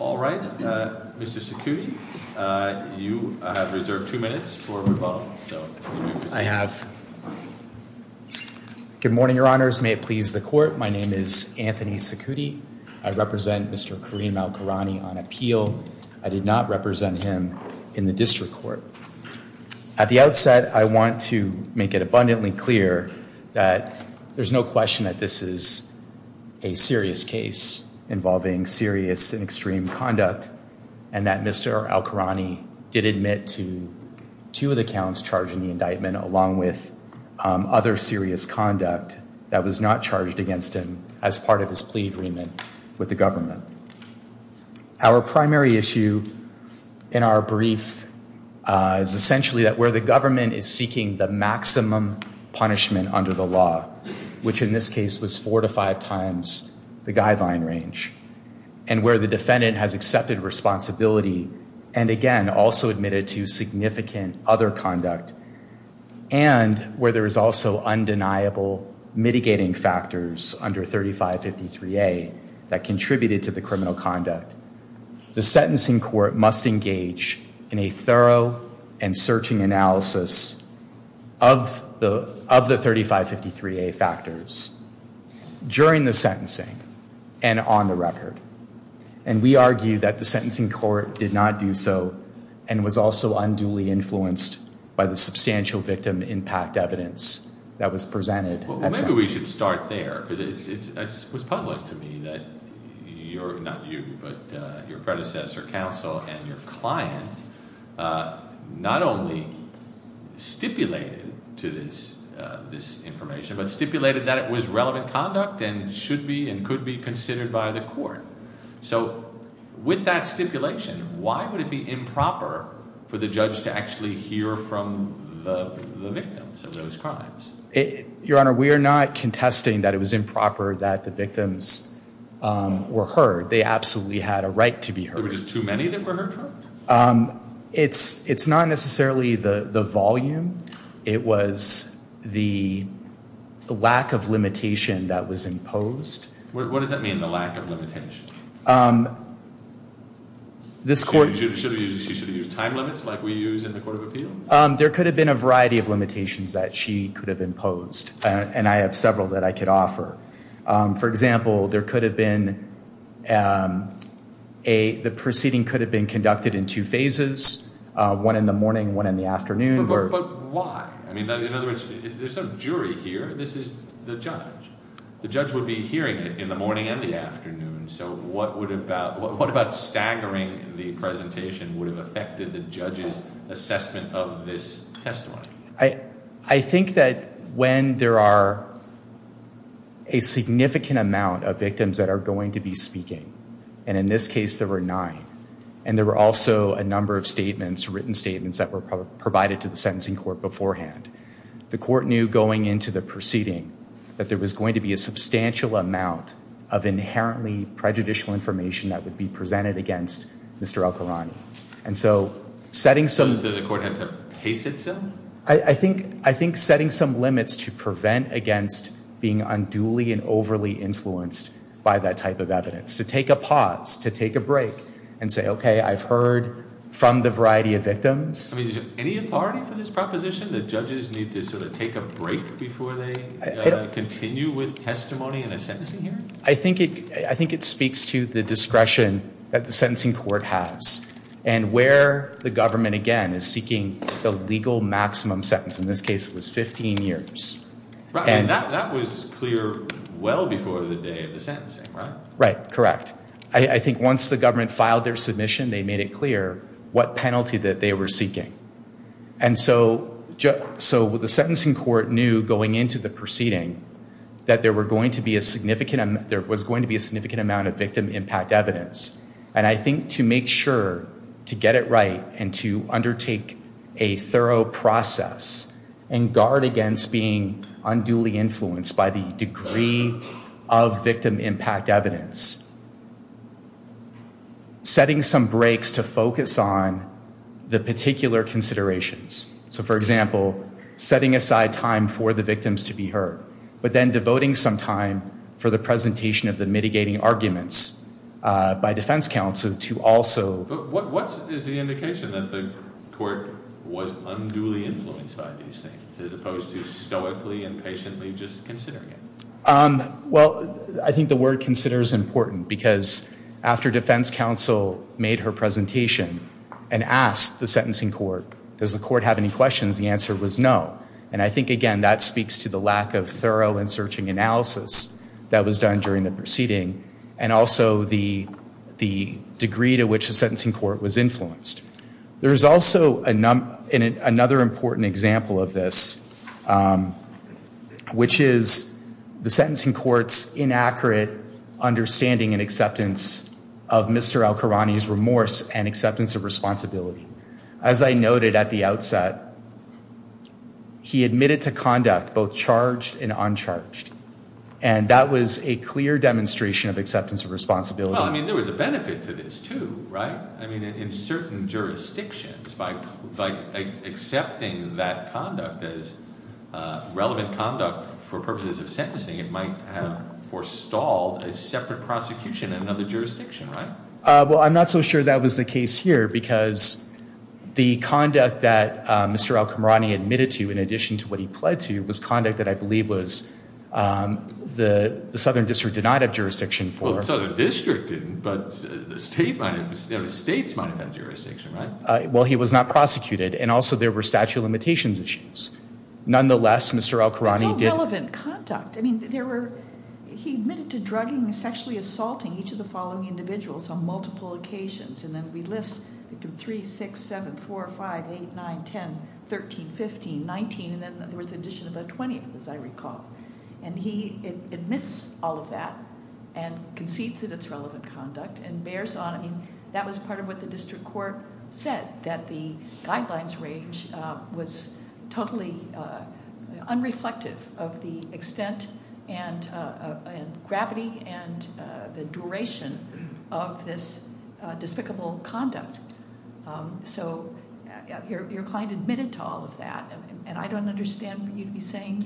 Alright, Mr. Cicutti, you have reserved two minutes for revocations. Good morning, your honors. May it please the court. My name is Anthony Cicutti. I represent Mr. Kareem Elkorany on appeal. I did not represent him in the district court. At the outset, I want to make it abundantly clear that there's no question that this is a serious case involving serious and extreme conduct and that Mr. Elkorany did admit to two of the counts charged in the indictment along with other serious conduct that was not charged against him as part of his plea agreement with the government. Our primary issue in our brief is essentially that where the government is seeking the maximum punishment under the law, which in this case was four to five times the guideline range and where the defendant has accepted responsibility and again also admitted to significant other conduct and where there is also undeniable mitigating factors under 3553A that contributed to the criminal conduct, the sentencing court must engage in a thorough and searching analysis of the 3553A factors during the sentencing and on the record. And we argue that the sentencing court did not do so and was also unduly influenced by the substantial victim impact evidence that was presented. Maybe we should start there because it was puzzling to me that your predecessor counsel and your client not only stipulated to this information but stipulated that it was relevant conduct and should be and could be considered by the court. So with that stipulation, why would it be improper for the judge to actually hear from the victims of those crimes? Your Honor, we are not contesting that it was improper that the victims were heard. They absolutely had a right to be heard. There were just too many that were heard from? It's not necessarily the volume. It was the lack of limitation that was imposed. What does that mean, the lack of limitation? She should have used time limits like we use in the court of appeals? There could have been a variety of limitations that she could have imposed, and I have several that I could offer. For example, the proceeding could have been conducted in two phases, one in the morning, one in the afternoon. But why? I mean, in other words, there's no jury here. This is the judge. The judge would be hearing it in the morning and the afternoon. So what about staggering the presentation would have affected the judge's assessment of this testimony? I think that when there are a significant amount of victims that are going to be speaking, and in this case there were nine, and there were also a number of statements, written statements, that were provided to the sentencing court beforehand, the court knew going into the proceeding that there was going to be a substantial amount of inherently prejudicial information that would be presented against Mr. El-Khorani. And so setting some... So the court had to pace itself? I think setting some limits to prevent against being unduly and overly influenced by that type of evidence, to take a pause, to take a break, and say, okay, I've heard from the variety of victims. I mean, is there any authority for this proposition that judges need to sort of take a break before they continue with testimony in a sentencing hearing? I think it speaks to the discretion that the sentencing court has, and where the government, again, is seeking the legal maximum sentence. In this case, it was 15 years. And that was clear well before the day of the sentencing, right? Right, correct. I think once the government filed their submission, they made it clear what penalty that they were seeking. And so the sentencing court knew going into the proceeding that there was going to be a significant amount of victim impact evidence. And I think to make sure to get it right and to undertake a thorough process and guard against being unduly influenced by the degree of victim impact evidence, setting some breaks to focus on the particular considerations. So, for example, setting aside time for the victims to be heard, but then devoting some time for the presentation of the mitigating arguments by defense counsel to also- But what is the indication that the court was unduly influenced by these things, as opposed to stoically and patiently just considering it? Well, I think the word consider is important, because after defense counsel made her presentation and asked the sentencing court, does the court have any questions, the answer was no. And I think, again, that speaks to the lack of thorough and searching analysis that was done during the proceeding, and also the degree to which the sentencing court was influenced. There is also another important example of this, which is the sentencing court's inaccurate understanding and acceptance of Mr. Al-Qurani's remorse and acceptance of responsibility. As I noted at the outset, he admitted to conduct both charged and uncharged. And that was a clear demonstration of acceptance of responsibility. Well, I mean, there was a benefit to this, too, right? I mean, in certain jurisdictions, by accepting that conduct as relevant conduct for purposes of sentencing, it might have forestalled a separate prosecution in another jurisdiction, right? Well, I'm not so sure that was the case here, because the conduct that Mr. Al-Qurani admitted to, in addition to what he pled to, was conduct that I believe the Southern District did not have jurisdiction for. Well, the Southern District didn't, but the states might have had jurisdiction, right? Well, he was not prosecuted, and also there were statute of limitations issues. Nonetheless, Mr. Al-Qurani did- It's all relevant conduct. I mean, he admitted to drugging and sexually assaulting each of the following individuals on multiple occasions, and then we list victims 3, 6, 7, 4, 5, 8, 9, 10, 13, 15, 19, and then there was the addition of a 20th, as I recall. And he admits all of that and concedes that it's relevant conduct and bears on. I mean, that was part of what the district court said, that the guidelines range was totally unreflective of the extent and gravity and the duration of this despicable conduct. So your client admitted to all of that, and I don't understand what you'd be saying,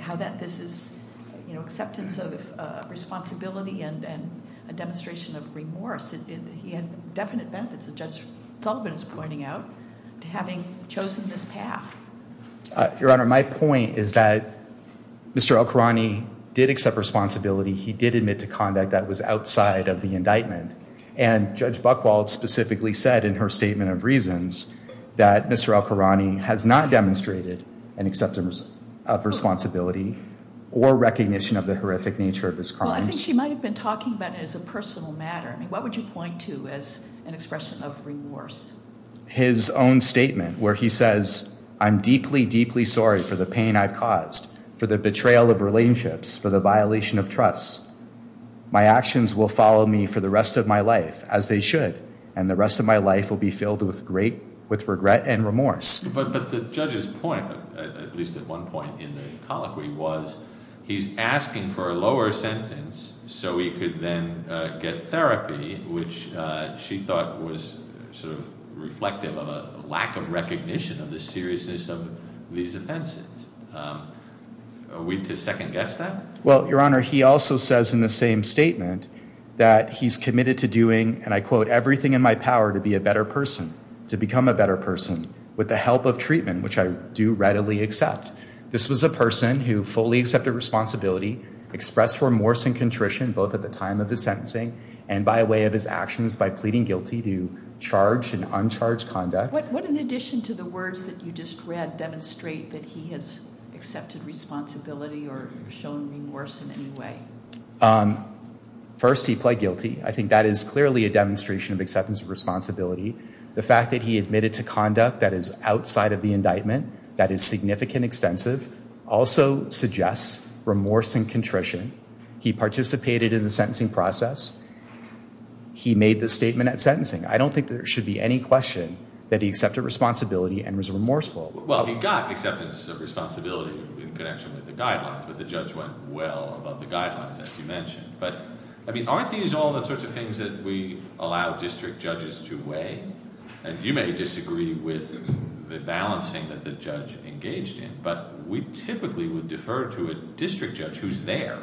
how that this is acceptance of responsibility and a demonstration of remorse. He had definite benefits, as Judge Sullivan is pointing out, to having chosen this path. Your Honor, my point is that Mr. Al-Qurani did accept responsibility. He did admit to conduct that was outside of the indictment, and Judge Buchwald specifically said in her statement of reasons that Mr. Al-Qurani has not demonstrated an acceptance of responsibility or recognition of the horrific nature of his crimes. Well, I think she might have been talking about it as a personal matter. I mean, what would you point to as an expression of remorse? His own statement, where he says, I'm deeply, deeply sorry for the pain I've caused, for the betrayal of relationships, for the violation of trust. My actions will follow me for the rest of my life, as they should, and the rest of my life will be filled with regret and remorse. But the judge's point, at least at one point in the colloquy, was he's asking for a lower sentence so he could then get therapy, which she thought was sort of reflective of a lack of recognition of the seriousness of these offenses. Are we to second-guess that? Well, Your Honor, he also says in the same statement that he's committed to doing, and I quote, everything in my power to be a better person, to become a better person, with the help of treatment, which I do readily accept. This was a person who fully accepted responsibility, expressed remorse and contrition both at the time of his sentencing and by way of his actions, by pleading guilty to charged and uncharged conduct. Would an addition to the words that you just read demonstrate that he has accepted responsibility or shown remorse in any way? First, he pled guilty. I think that is clearly a demonstration of acceptance of responsibility. The fact that he admitted to conduct that is outside of the indictment, that is significant, extensive, also suggests remorse and contrition. He participated in the sentencing process. He made the statement at sentencing. I don't think there should be any question that he accepted responsibility and was remorseful. Well, he got acceptance of responsibility in connection with the guidelines, but the judge went well above the guidelines, as you mentioned. But, I mean, aren't these all the sorts of things that we allow district judges to weigh? And you may disagree with the balancing that the judge engaged in, but we typically would defer to a district judge who's there,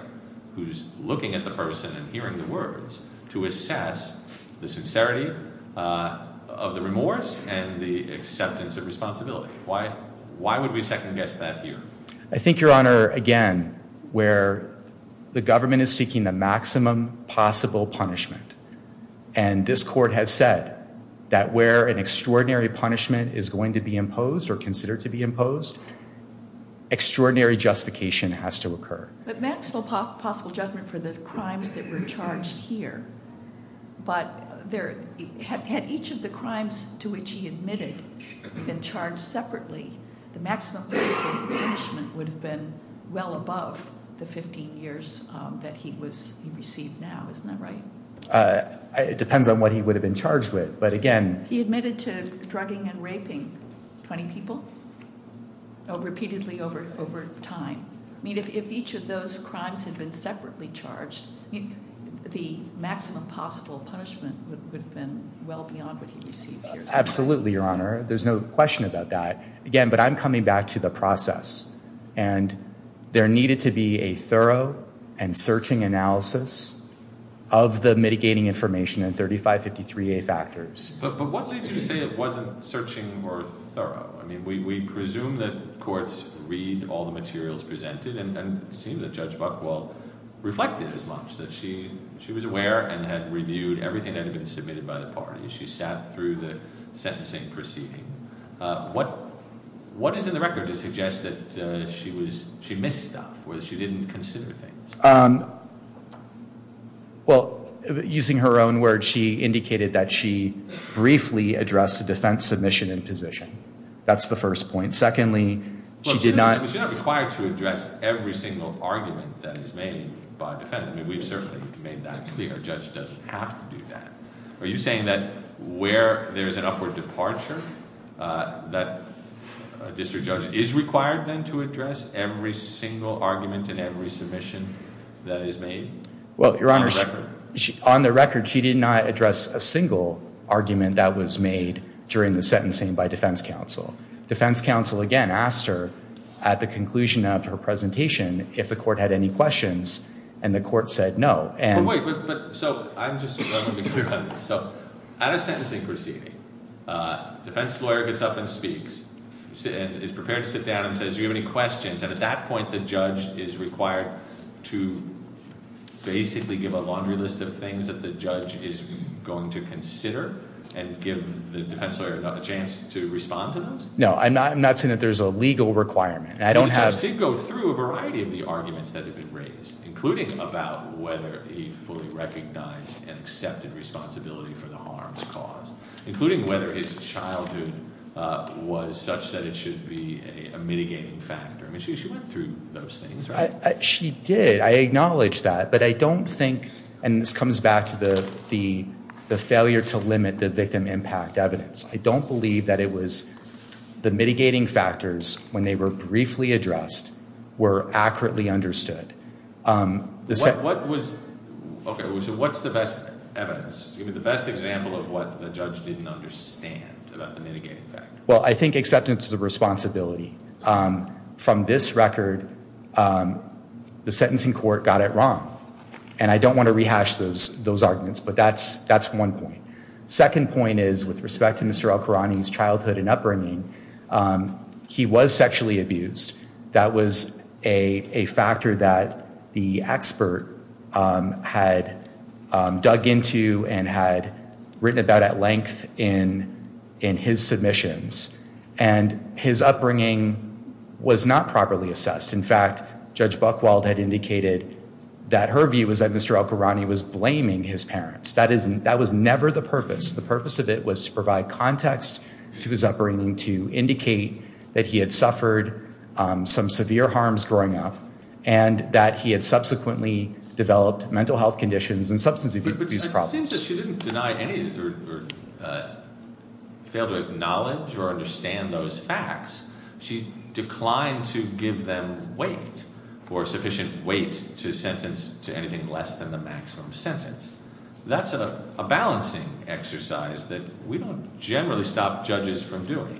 who's looking at the person and hearing the words, to assess the sincerity of the remorse and the acceptance of responsibility. Why would we second-guess that here? I think, Your Honor, again, where the government is seeking the maximum possible punishment, and this court has said that where an extraordinary punishment is going to be imposed or considered to be imposed, extraordinary justification has to occur. But maximum possible judgment for the crimes that were charged here. But had each of the crimes to which he admitted been charged separately, the maximum possible punishment would have been well above the 15 years that he received now. Isn't that right? It depends on what he would have been charged with, but again- He admitted to drugging and raping 20 people repeatedly over time. I mean, if each of those crimes had been separately charged, the maximum possible punishment would have been well beyond what he received here. Absolutely, Your Honor. There's no question about that. Again, but I'm coming back to the process, and there needed to be a thorough and searching analysis of the mitigating information in 3553A factors. But what leads you to say it wasn't searching or thorough? I mean, we presume that courts read all the materials presented, and it seemed that Judge Buchwald reflected as much, that she was aware and had reviewed everything that had been submitted by the parties. She sat through the sentencing proceeding. What is in the record to suggest that she missed stuff or that she didn't consider things? Well, using her own words, she indicated that she briefly addressed the defense submission and position. That's the first point. Secondly, she did not- Well, she's not required to address every single argument that is made by a defendant. I mean, we've certainly made that clear. A judge doesn't have to do that. Are you saying that where there's an upward departure, that a district judge is required then to address every single argument and every submission that is made? Well, Your Honor, on the record, she did not address a single argument that was made during the sentencing by defense counsel. Defense counsel, again, asked her at the conclusion of her presentation if the court had any questions, and the court said no. Well, wait. So I'm just going to be clear on this. So at a sentencing proceeding, defense lawyer gets up and speaks, is prepared to sit down and says, do you have any questions? And at that point, the judge is required to basically give a laundry list of things that the judge is going to consider and give the defense lawyer a chance to respond to those? No, I'm not saying that there's a legal requirement. The judge did go through a variety of the arguments that have been raised, including about whether he fully recognized and accepted responsibility for the harms caused, including whether his childhood was such that it should be a mitigating factor. I mean, she went through those things, right? She did. I acknowledge that. But I don't think, and this comes back to the failure to limit the victim impact evidence, I don't believe that it was the mitigating factors, when they were briefly addressed, were accurately understood. Okay, so what's the best evidence? Give me the best example of what the judge didn't understand about the mitigating factors. Well, I think acceptance of responsibility. From this record, the sentencing court got it wrong. And I don't want to rehash those arguments, but that's one point. Second point is, with respect to Mr. Alkirani's childhood and upbringing, he was sexually abused. That was a factor that the expert had dug into and had written about at length in his submissions. And his upbringing was not properly assessed. In fact, Judge Buchwald had indicated that her view was that Mr. Alkirani was blaming his parents. That was never the purpose. The purpose of it was to provide context to his upbringing, to indicate that he had suffered some severe harms growing up, and that he had subsequently developed mental health conditions and substance abuse problems. But it seems that she didn't deny any or fail to acknowledge or understand those facts. She declined to give them weight or sufficient weight to sentence to anything less than the maximum sentence. That's a balancing exercise that we don't generally stop judges from doing.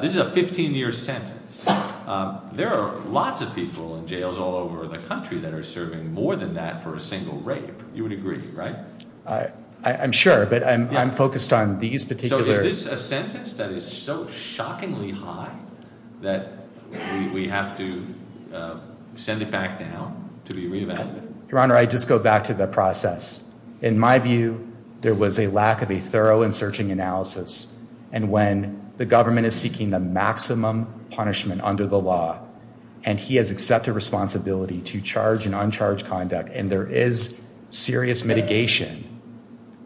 This is a 15-year sentence. There are lots of people in jails all over the country that are serving more than that for a single rape. You would agree, right? I'm sure, but I'm focused on these particular— that we have to send it back down to be reevaluated. Your Honor, I'd just go back to the process. In my view, there was a lack of a thorough and searching analysis. And when the government is seeking the maximum punishment under the law, and he has accepted responsibility to charge an uncharged conduct, and there is serious mitigation,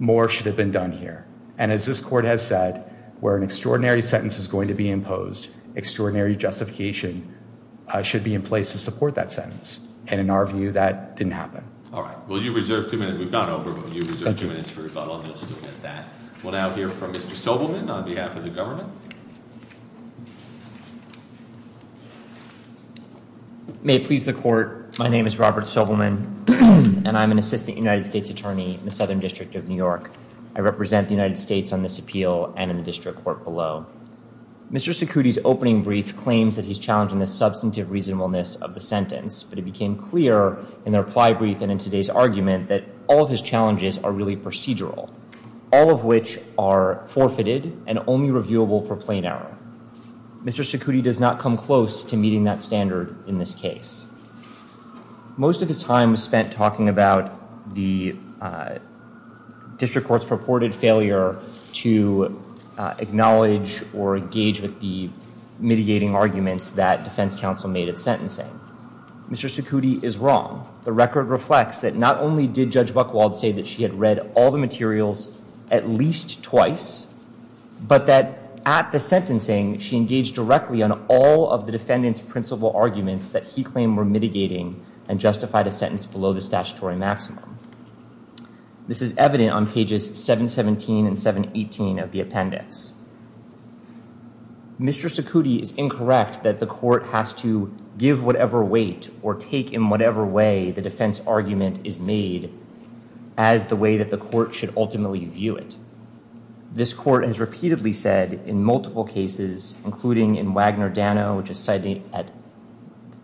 more should have been done here. And as this Court has said, where an extraordinary sentence is going to be imposed, extraordinary justification should be in place to support that sentence. And in our view, that didn't happen. All right. Well, you reserve two minutes. We've gone over, but you reserve two minutes for rebuttal. We'll now hear from Mr. Sobelman on behalf of the government. May it please the Court, my name is Robert Sobelman, and I'm an Assistant United States Attorney in the Southern District of New York. I represent the United States on this appeal and in the District Court below. Mr. Secuti's opening brief claims that he's challenged in the substantive reasonableness of the sentence, but it became clear in the reply brief and in today's argument that all of his challenges are really procedural, all of which are forfeited and only reviewable for plain error. Mr. Secuti does not come close to meeting that standard in this case. Most of his time was spent talking about the District Court's purported failure to acknowledge or engage with the mitigating arguments that defense counsel made at sentencing. Mr. Secuti is wrong. The record reflects that not only did Judge Buchwald say that she had read all the materials at least twice, but that at the sentencing she engaged directly on all of the defendant's principal arguments that he claimed were mitigating and justified a sentence below the statutory maximum. This is evident on pages 717 and 718 of the appendix. Mr. Secuti is incorrect that the Court has to give whatever weight or take in whatever way the defense argument is made as the way that the Court should ultimately view it. This Court has repeatedly said in multiple cases, including in Wagner-Dano, which is cited at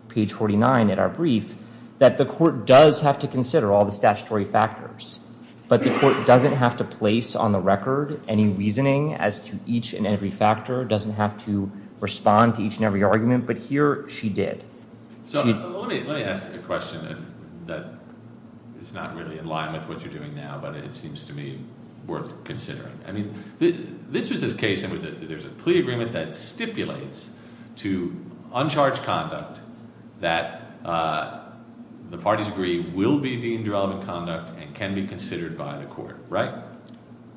page 49 in our brief, that the Court does have to consider all the statutory factors, but the Court doesn't have to place on the record any reasoning as to each and every factor, doesn't have to respond to each and every argument, but here she did. Let me ask a question that is not really in line with what you're doing now, but it seems to me worth considering. I mean, this was a case in which there's a plea agreement that stipulates to uncharged conduct that the parties agree will be deemed relevant conduct and can be considered by the Court, right?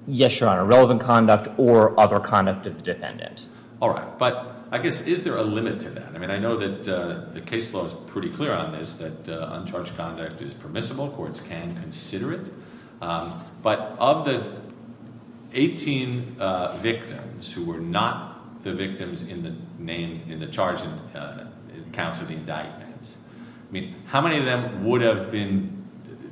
Yes, Your Honor, relevant conduct or other conduct of the defendant. All right, but I guess is there a limit to that? I mean, I know that the case law is pretty clear on this, that uncharged conduct is permissible, that all courts can consider it, but of the 18 victims who were not the victims in the charge in counts of indictments, I mean, how many of them would have been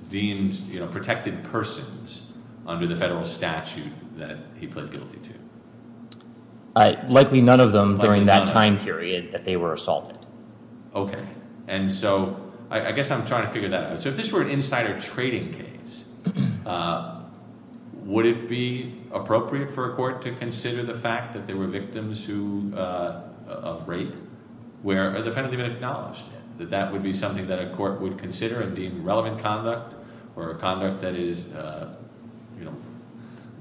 deemed protected persons under the federal statute that he pled guilty to? Likely none of them during that time period that they were assaulted. Okay, and so I guess I'm trying to figure that out. So if this were an insider trading case, would it be appropriate for a court to consider the fact that there were victims of rape where a defendant had been acknowledged, that that would be something that a court would consider and deem relevant conduct or a conduct that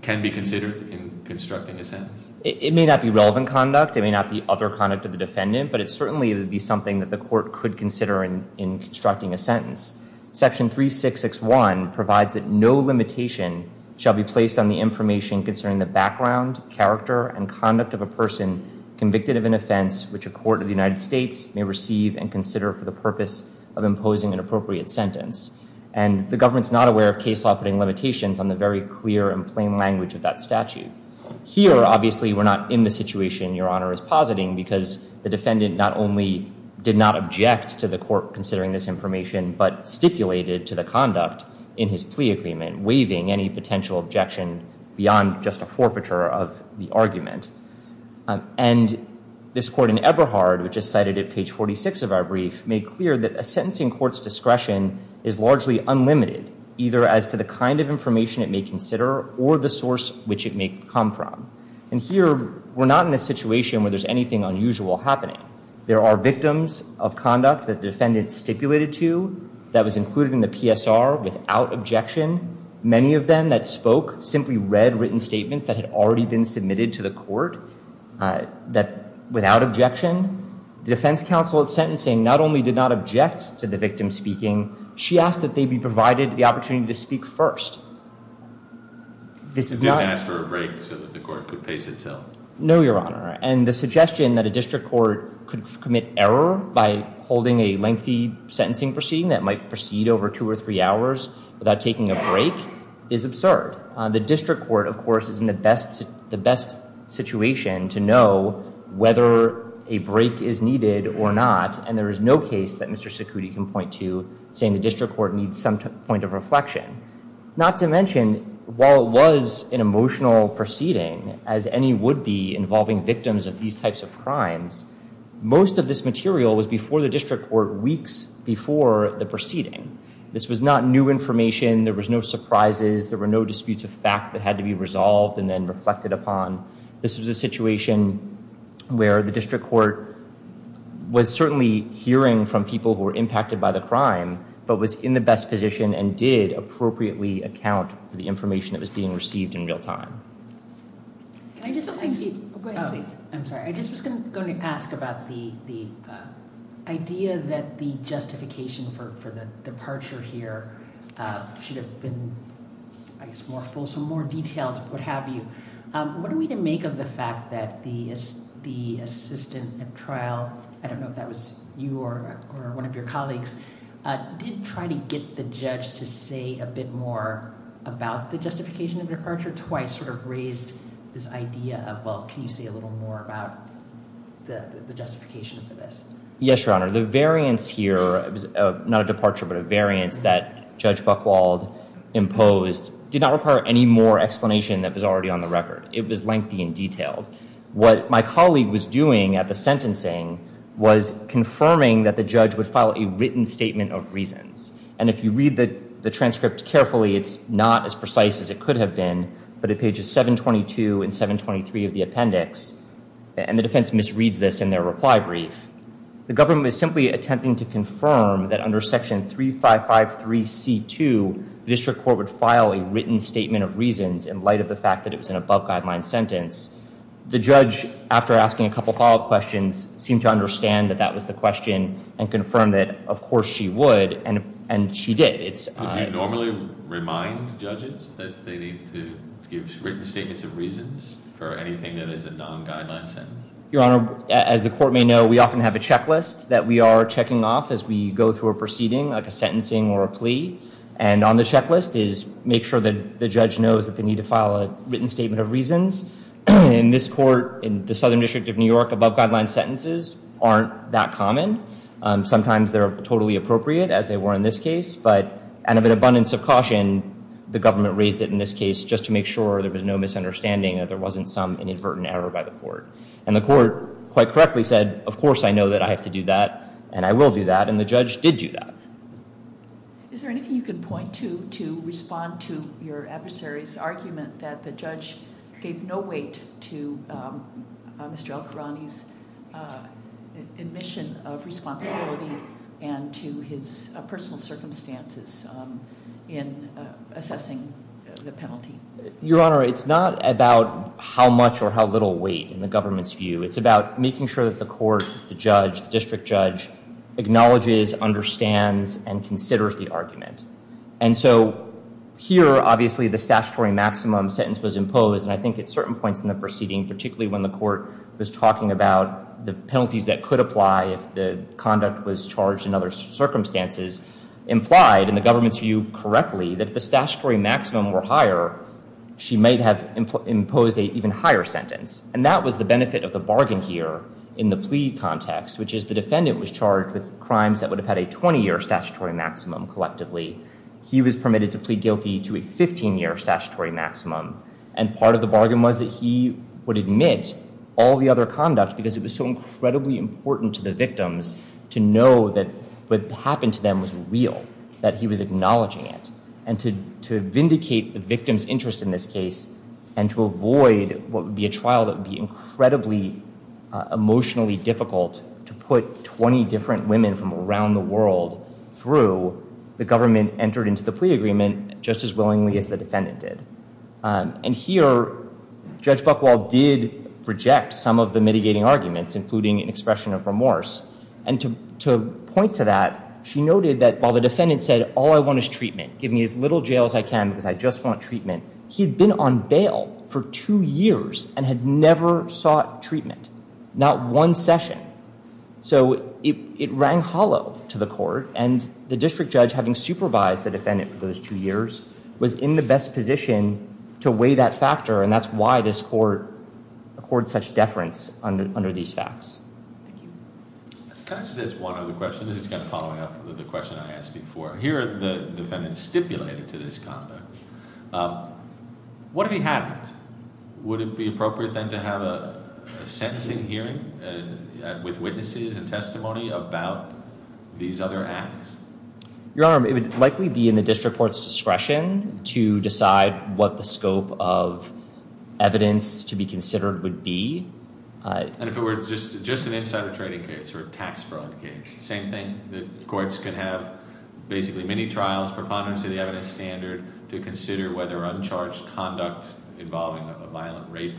can be considered in constructing a sentence? It may not be relevant conduct. It may not be other conduct of the defendant, but it certainly would be something that the court could consider in constructing a sentence. Section 3661 provides that no limitation shall be placed on the information concerning the background, character, and conduct of a person convicted of an offense which a court of the United States may receive and consider for the purpose of imposing an appropriate sentence. And the government's not aware of case law putting limitations on the very clear and plain language of that statute. Here, obviously, we're not in the situation Your Honor is positing because the defendant not only did not object to the court considering this information but stipulated to the conduct in his plea agreement, waiving any potential objection beyond just a forfeiture of the argument. And this court in Eberhard, which is cited at page 46 of our brief, made clear that a sentencing court's discretion is largely unlimited, either as to the kind of information it may consider or the source which it may come from. And here, we're not in a situation where there's anything unusual happening. There are victims of conduct that the defendant stipulated to that was included in the PSR without objection. Many of them that spoke simply read written statements that had already been submitted to the court without objection. The defense counsel at sentencing not only did not object to the victim speaking, she asked that they be provided the opportunity to speak first. This is not... You didn't ask for a break so that the court could pace itself? No, Your Honor. And the suggestion that a district court could commit error by holding a lengthy sentencing proceeding that might proceed over two or three hours without taking a break is absurd. The district court, of course, is in the best situation to know whether a break is needed or not, and there is no case that Mr. Secuti can point to saying the district court needs some point of reflection. Not to mention, while it was an emotional proceeding, as any would be involving victims of these types of crimes, most of this material was before the district court weeks before the proceeding. This was not new information. There was no surprises. There were no disputes of fact that had to be resolved and then reflected upon. This was a situation where the district court was certainly hearing from people who were impacted by the crime but was in the best position and did appropriately account for the information that was being received in real time. Can I just ask you... Go ahead, please. I'm sorry. I just was going to ask about the idea that the justification for the departure here should have been, I guess, more full, some more detail, what have you. What do we make of the fact that the assistant at trial, I don't know if that was you or one of your colleagues, did try to get the judge to say a bit more about the justification of departure? Twice sort of raised this idea of, well, can you say a little more about the justification for this? Yes, Your Honor. The variance here, not a departure, but a variance that Judge Buchwald imposed did not require any more explanation that was already on the record. It was lengthy and detailed. What my colleague was doing at the sentencing was confirming that the judge would file a written statement of reasons. And if you read the transcript carefully, it's not as precise as it could have been, but at pages 722 and 723 of the appendix, and the defense misreads this in their reply brief, the government is simply attempting to confirm that under section 3553C2, the district court would file a written statement of reasons in light of the fact that it was an above-guideline sentence. The judge, after asking a couple follow-up questions, seemed to understand that that was the question and confirmed that of course she would, and she did. Would you normally remind judges that they need to give written statements of reasons for anything that is a non-guideline sentence? Your Honor, as the court may know, we often have a checklist that we are checking off as we go through a proceeding, like a sentencing or a plea. And on the checklist is make sure that the judge knows that they need to file a written statement of reasons. In this court, in the Southern District of New York, above-guideline sentences aren't that common. Sometimes they're totally appropriate, as they were in this case, but out of an abundance of caution, the government raised it in this case just to make sure there was no misunderstanding, that there wasn't some inadvertent error by the court. And the court quite correctly said, of course I know that I have to do that, and I will do that, and the judge did do that. Is there anything you can point to to respond to your adversary's argument that the judge gave no weight to Mr. El-Khorani's admission of responsibility and to his personal circumstances in assessing the penalty? Your Honor, it's not about how much or how little weight in the government's view. It's about making sure that the court, the judge, the district judge, acknowledges, understands, and considers the argument. And so here, obviously, the statutory maximum sentence was imposed, and I think at certain points in the proceeding, particularly when the court was talking about the penalties that could apply if the conduct was charged in other circumstances, implied, in the government's view, correctly, that if the statutory maximum were higher, she might have imposed an even higher sentence. And that was the benefit of the bargain here in the plea context, which is the defendant was charged with crimes that would have had a 20-year statutory maximum collectively. He was permitted to plead guilty to a 15-year statutory maximum, and part of the bargain was that he would admit all the other conduct because it was so incredibly important to the victims to know that what happened to them was real, that he was acknowledging it, and to vindicate the victim's interest in this case and to avoid what would be a trial that would be incredibly emotionally difficult to put 20 different women from around the world through. The government entered into the plea agreement just as willingly as the defendant did. And here, Judge Buchwald did reject some of the mitigating arguments, including an expression of remorse. And to point to that, she noted that while the defendant said, all I want is treatment, give me as little jail as I can because I just want treatment, he had been on bail for two years and had never sought treatment. Not one session. So it rang hollow to the court, and the district judge, having supervised the defendant for those two years, was in the best position to weigh that factor, and that's why this court accords such deference under these facts. Thank you. Can I just ask one other question? This is kind of following up on the question I asked before. Here, the defendant stipulated to this conduct. What if he hadn't? Would it be appropriate, then, to have a sentencing hearing with witnesses and testimony about these other acts? Your Honor, it would likely be in the district court's discretion to decide what the scope of evidence to be considered would be. And if it were just an insider trading case or a tax fraud case? Same thing? The courts could have basically many trials, preponderance of the evidence standard to consider whether uncharged conduct involving a violent rape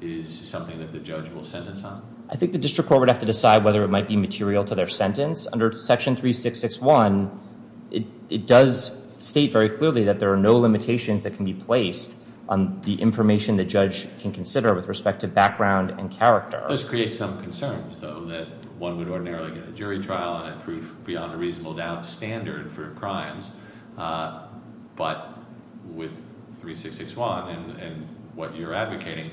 is something that the judge will sentence on? I think the district court would have to decide whether it might be material to their sentence. Under Section 3661, it does state very clearly that there are no limitations that can be placed on the information the judge can consider with respect to background and character. This creates some concerns, though, that one would ordinarily get a jury trial and a proof beyond a reasonable doubt standard for crimes, but with 3661 and what you're advocating,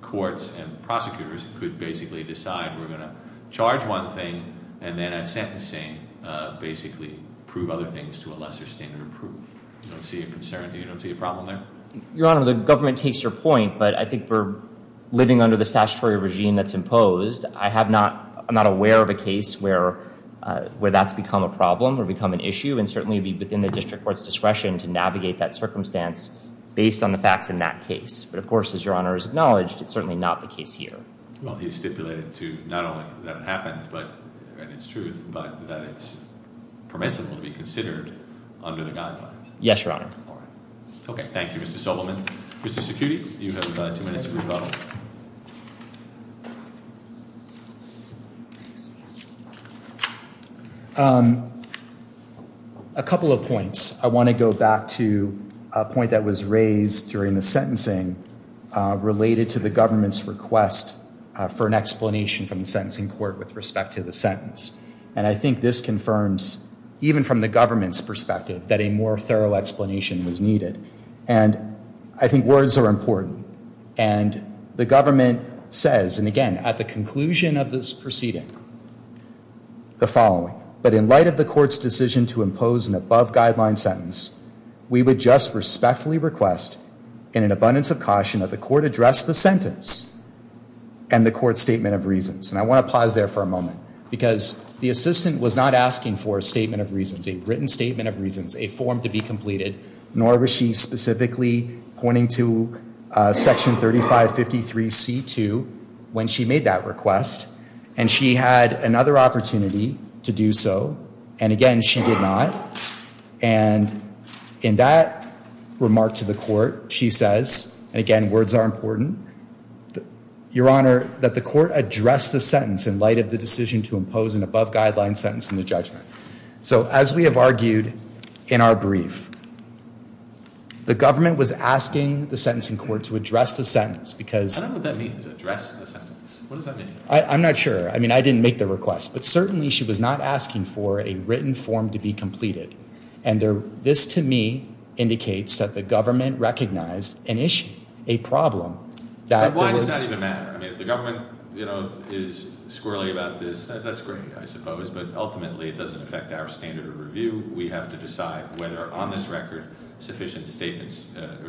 courts and prosecutors could basically decide we're going to charge one thing and then at sentencing basically prove other things to a lesser standard of proof. I don't see a concern. Do you not see a problem there? Your Honor, the government takes your point, but I think we're living under the statutory regime that's imposed. I'm not aware of a case where that's become a problem or become an issue and certainly be within the district court's discretion to navigate that circumstance based on the facts in that case. But of course, as Your Honor has acknowledged, it's certainly not the case here. Well, he's stipulated to not only that it happened, and it's truth, but that it's permissible to be considered under the guidelines. Yes, Your Honor. All right. Okay, thank you, Mr. Sobelman. Mr. Cicutti, you have two minutes of rebuttal. A couple of points. I want to go back to a point that was raised during the sentencing related to the government's request for an explanation from the sentencing court with respect to the sentence. And I think this confirms, even from the government's perspective, that a more thorough explanation was needed. And I think words are important. And the government says, and again, at the conclusion of this proceeding, the following. But in light of the court's decision to impose an above-guideline sentence, we would just respectfully request, in an abundance of caution, that the court address the sentence and the court's statement of reasons. And I want to pause there for a moment because the assistant was not asking for a statement of reasons, a written statement of reasons, a form to be completed, nor was she specifically pointing to Section 3553C2 when she made that request. And she had another opportunity to do so. And again, she did not. And in that remark to the court, she says, and again, words are important, Your Honor, that the court address the sentence in light of the decision to impose an above-guideline sentence in the judgment. So as we have argued in our brief, the government was asking the sentencing court to address the sentence because... I don't know what that means, address the sentence. What does that mean? I'm not sure. I mean, I didn't make the request. But certainly she was not asking for a written form to be completed. And this, to me, indicates that the government recognized an issue, a problem. But why does that even matter? I mean, if the government is squirrely about this, that's great, I suppose, but ultimately it doesn't affect our standard of review. We have to decide whether, on this record, sufficient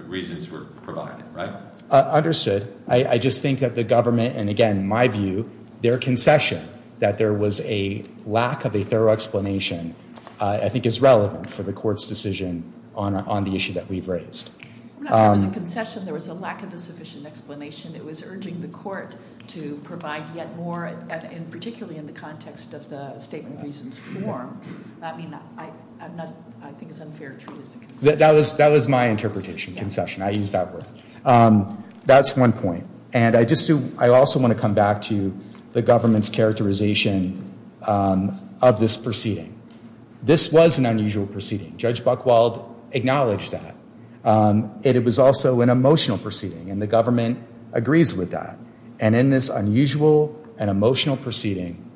reasons were provided, right? Understood. I just think that the government, and again, my view, their concession that there was a lack of a thorough explanation I think is relevant for the court's decision on the issue that we've raised. I'm not sure it was a concession. There was a lack of a sufficient explanation. It was urging the court to provide yet more, and particularly in the context of the statement of reasons form. I mean, I think it's unfair to treat it as a concession. That was my interpretation, concession. I used that word. That's one point. And I also want to come back to the government's characterization of this proceeding. This was an unusual proceeding. Judge Buchwald acknowledged that. It was also an emotional proceeding, and the government agrees with that. And in this unusual and emotional proceeding,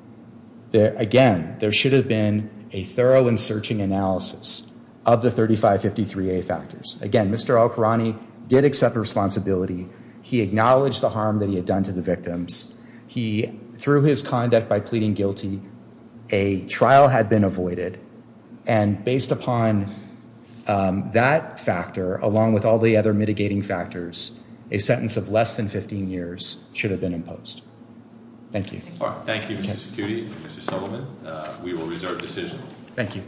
again, there should have been a thorough and searching analysis of the 3553A factors. Again, Mr. Al-Qurani did accept responsibility. He acknowledged the harm that he had done to the victims. He, through his conduct by pleading guilty, a trial had been avoided. And based upon that factor, along with all the other mitigating factors, a sentence of less than 15 years should have been imposed. Thank you. Thank you, Mr. Security and Mr. Sullivan. We will reserve decision. Thank you.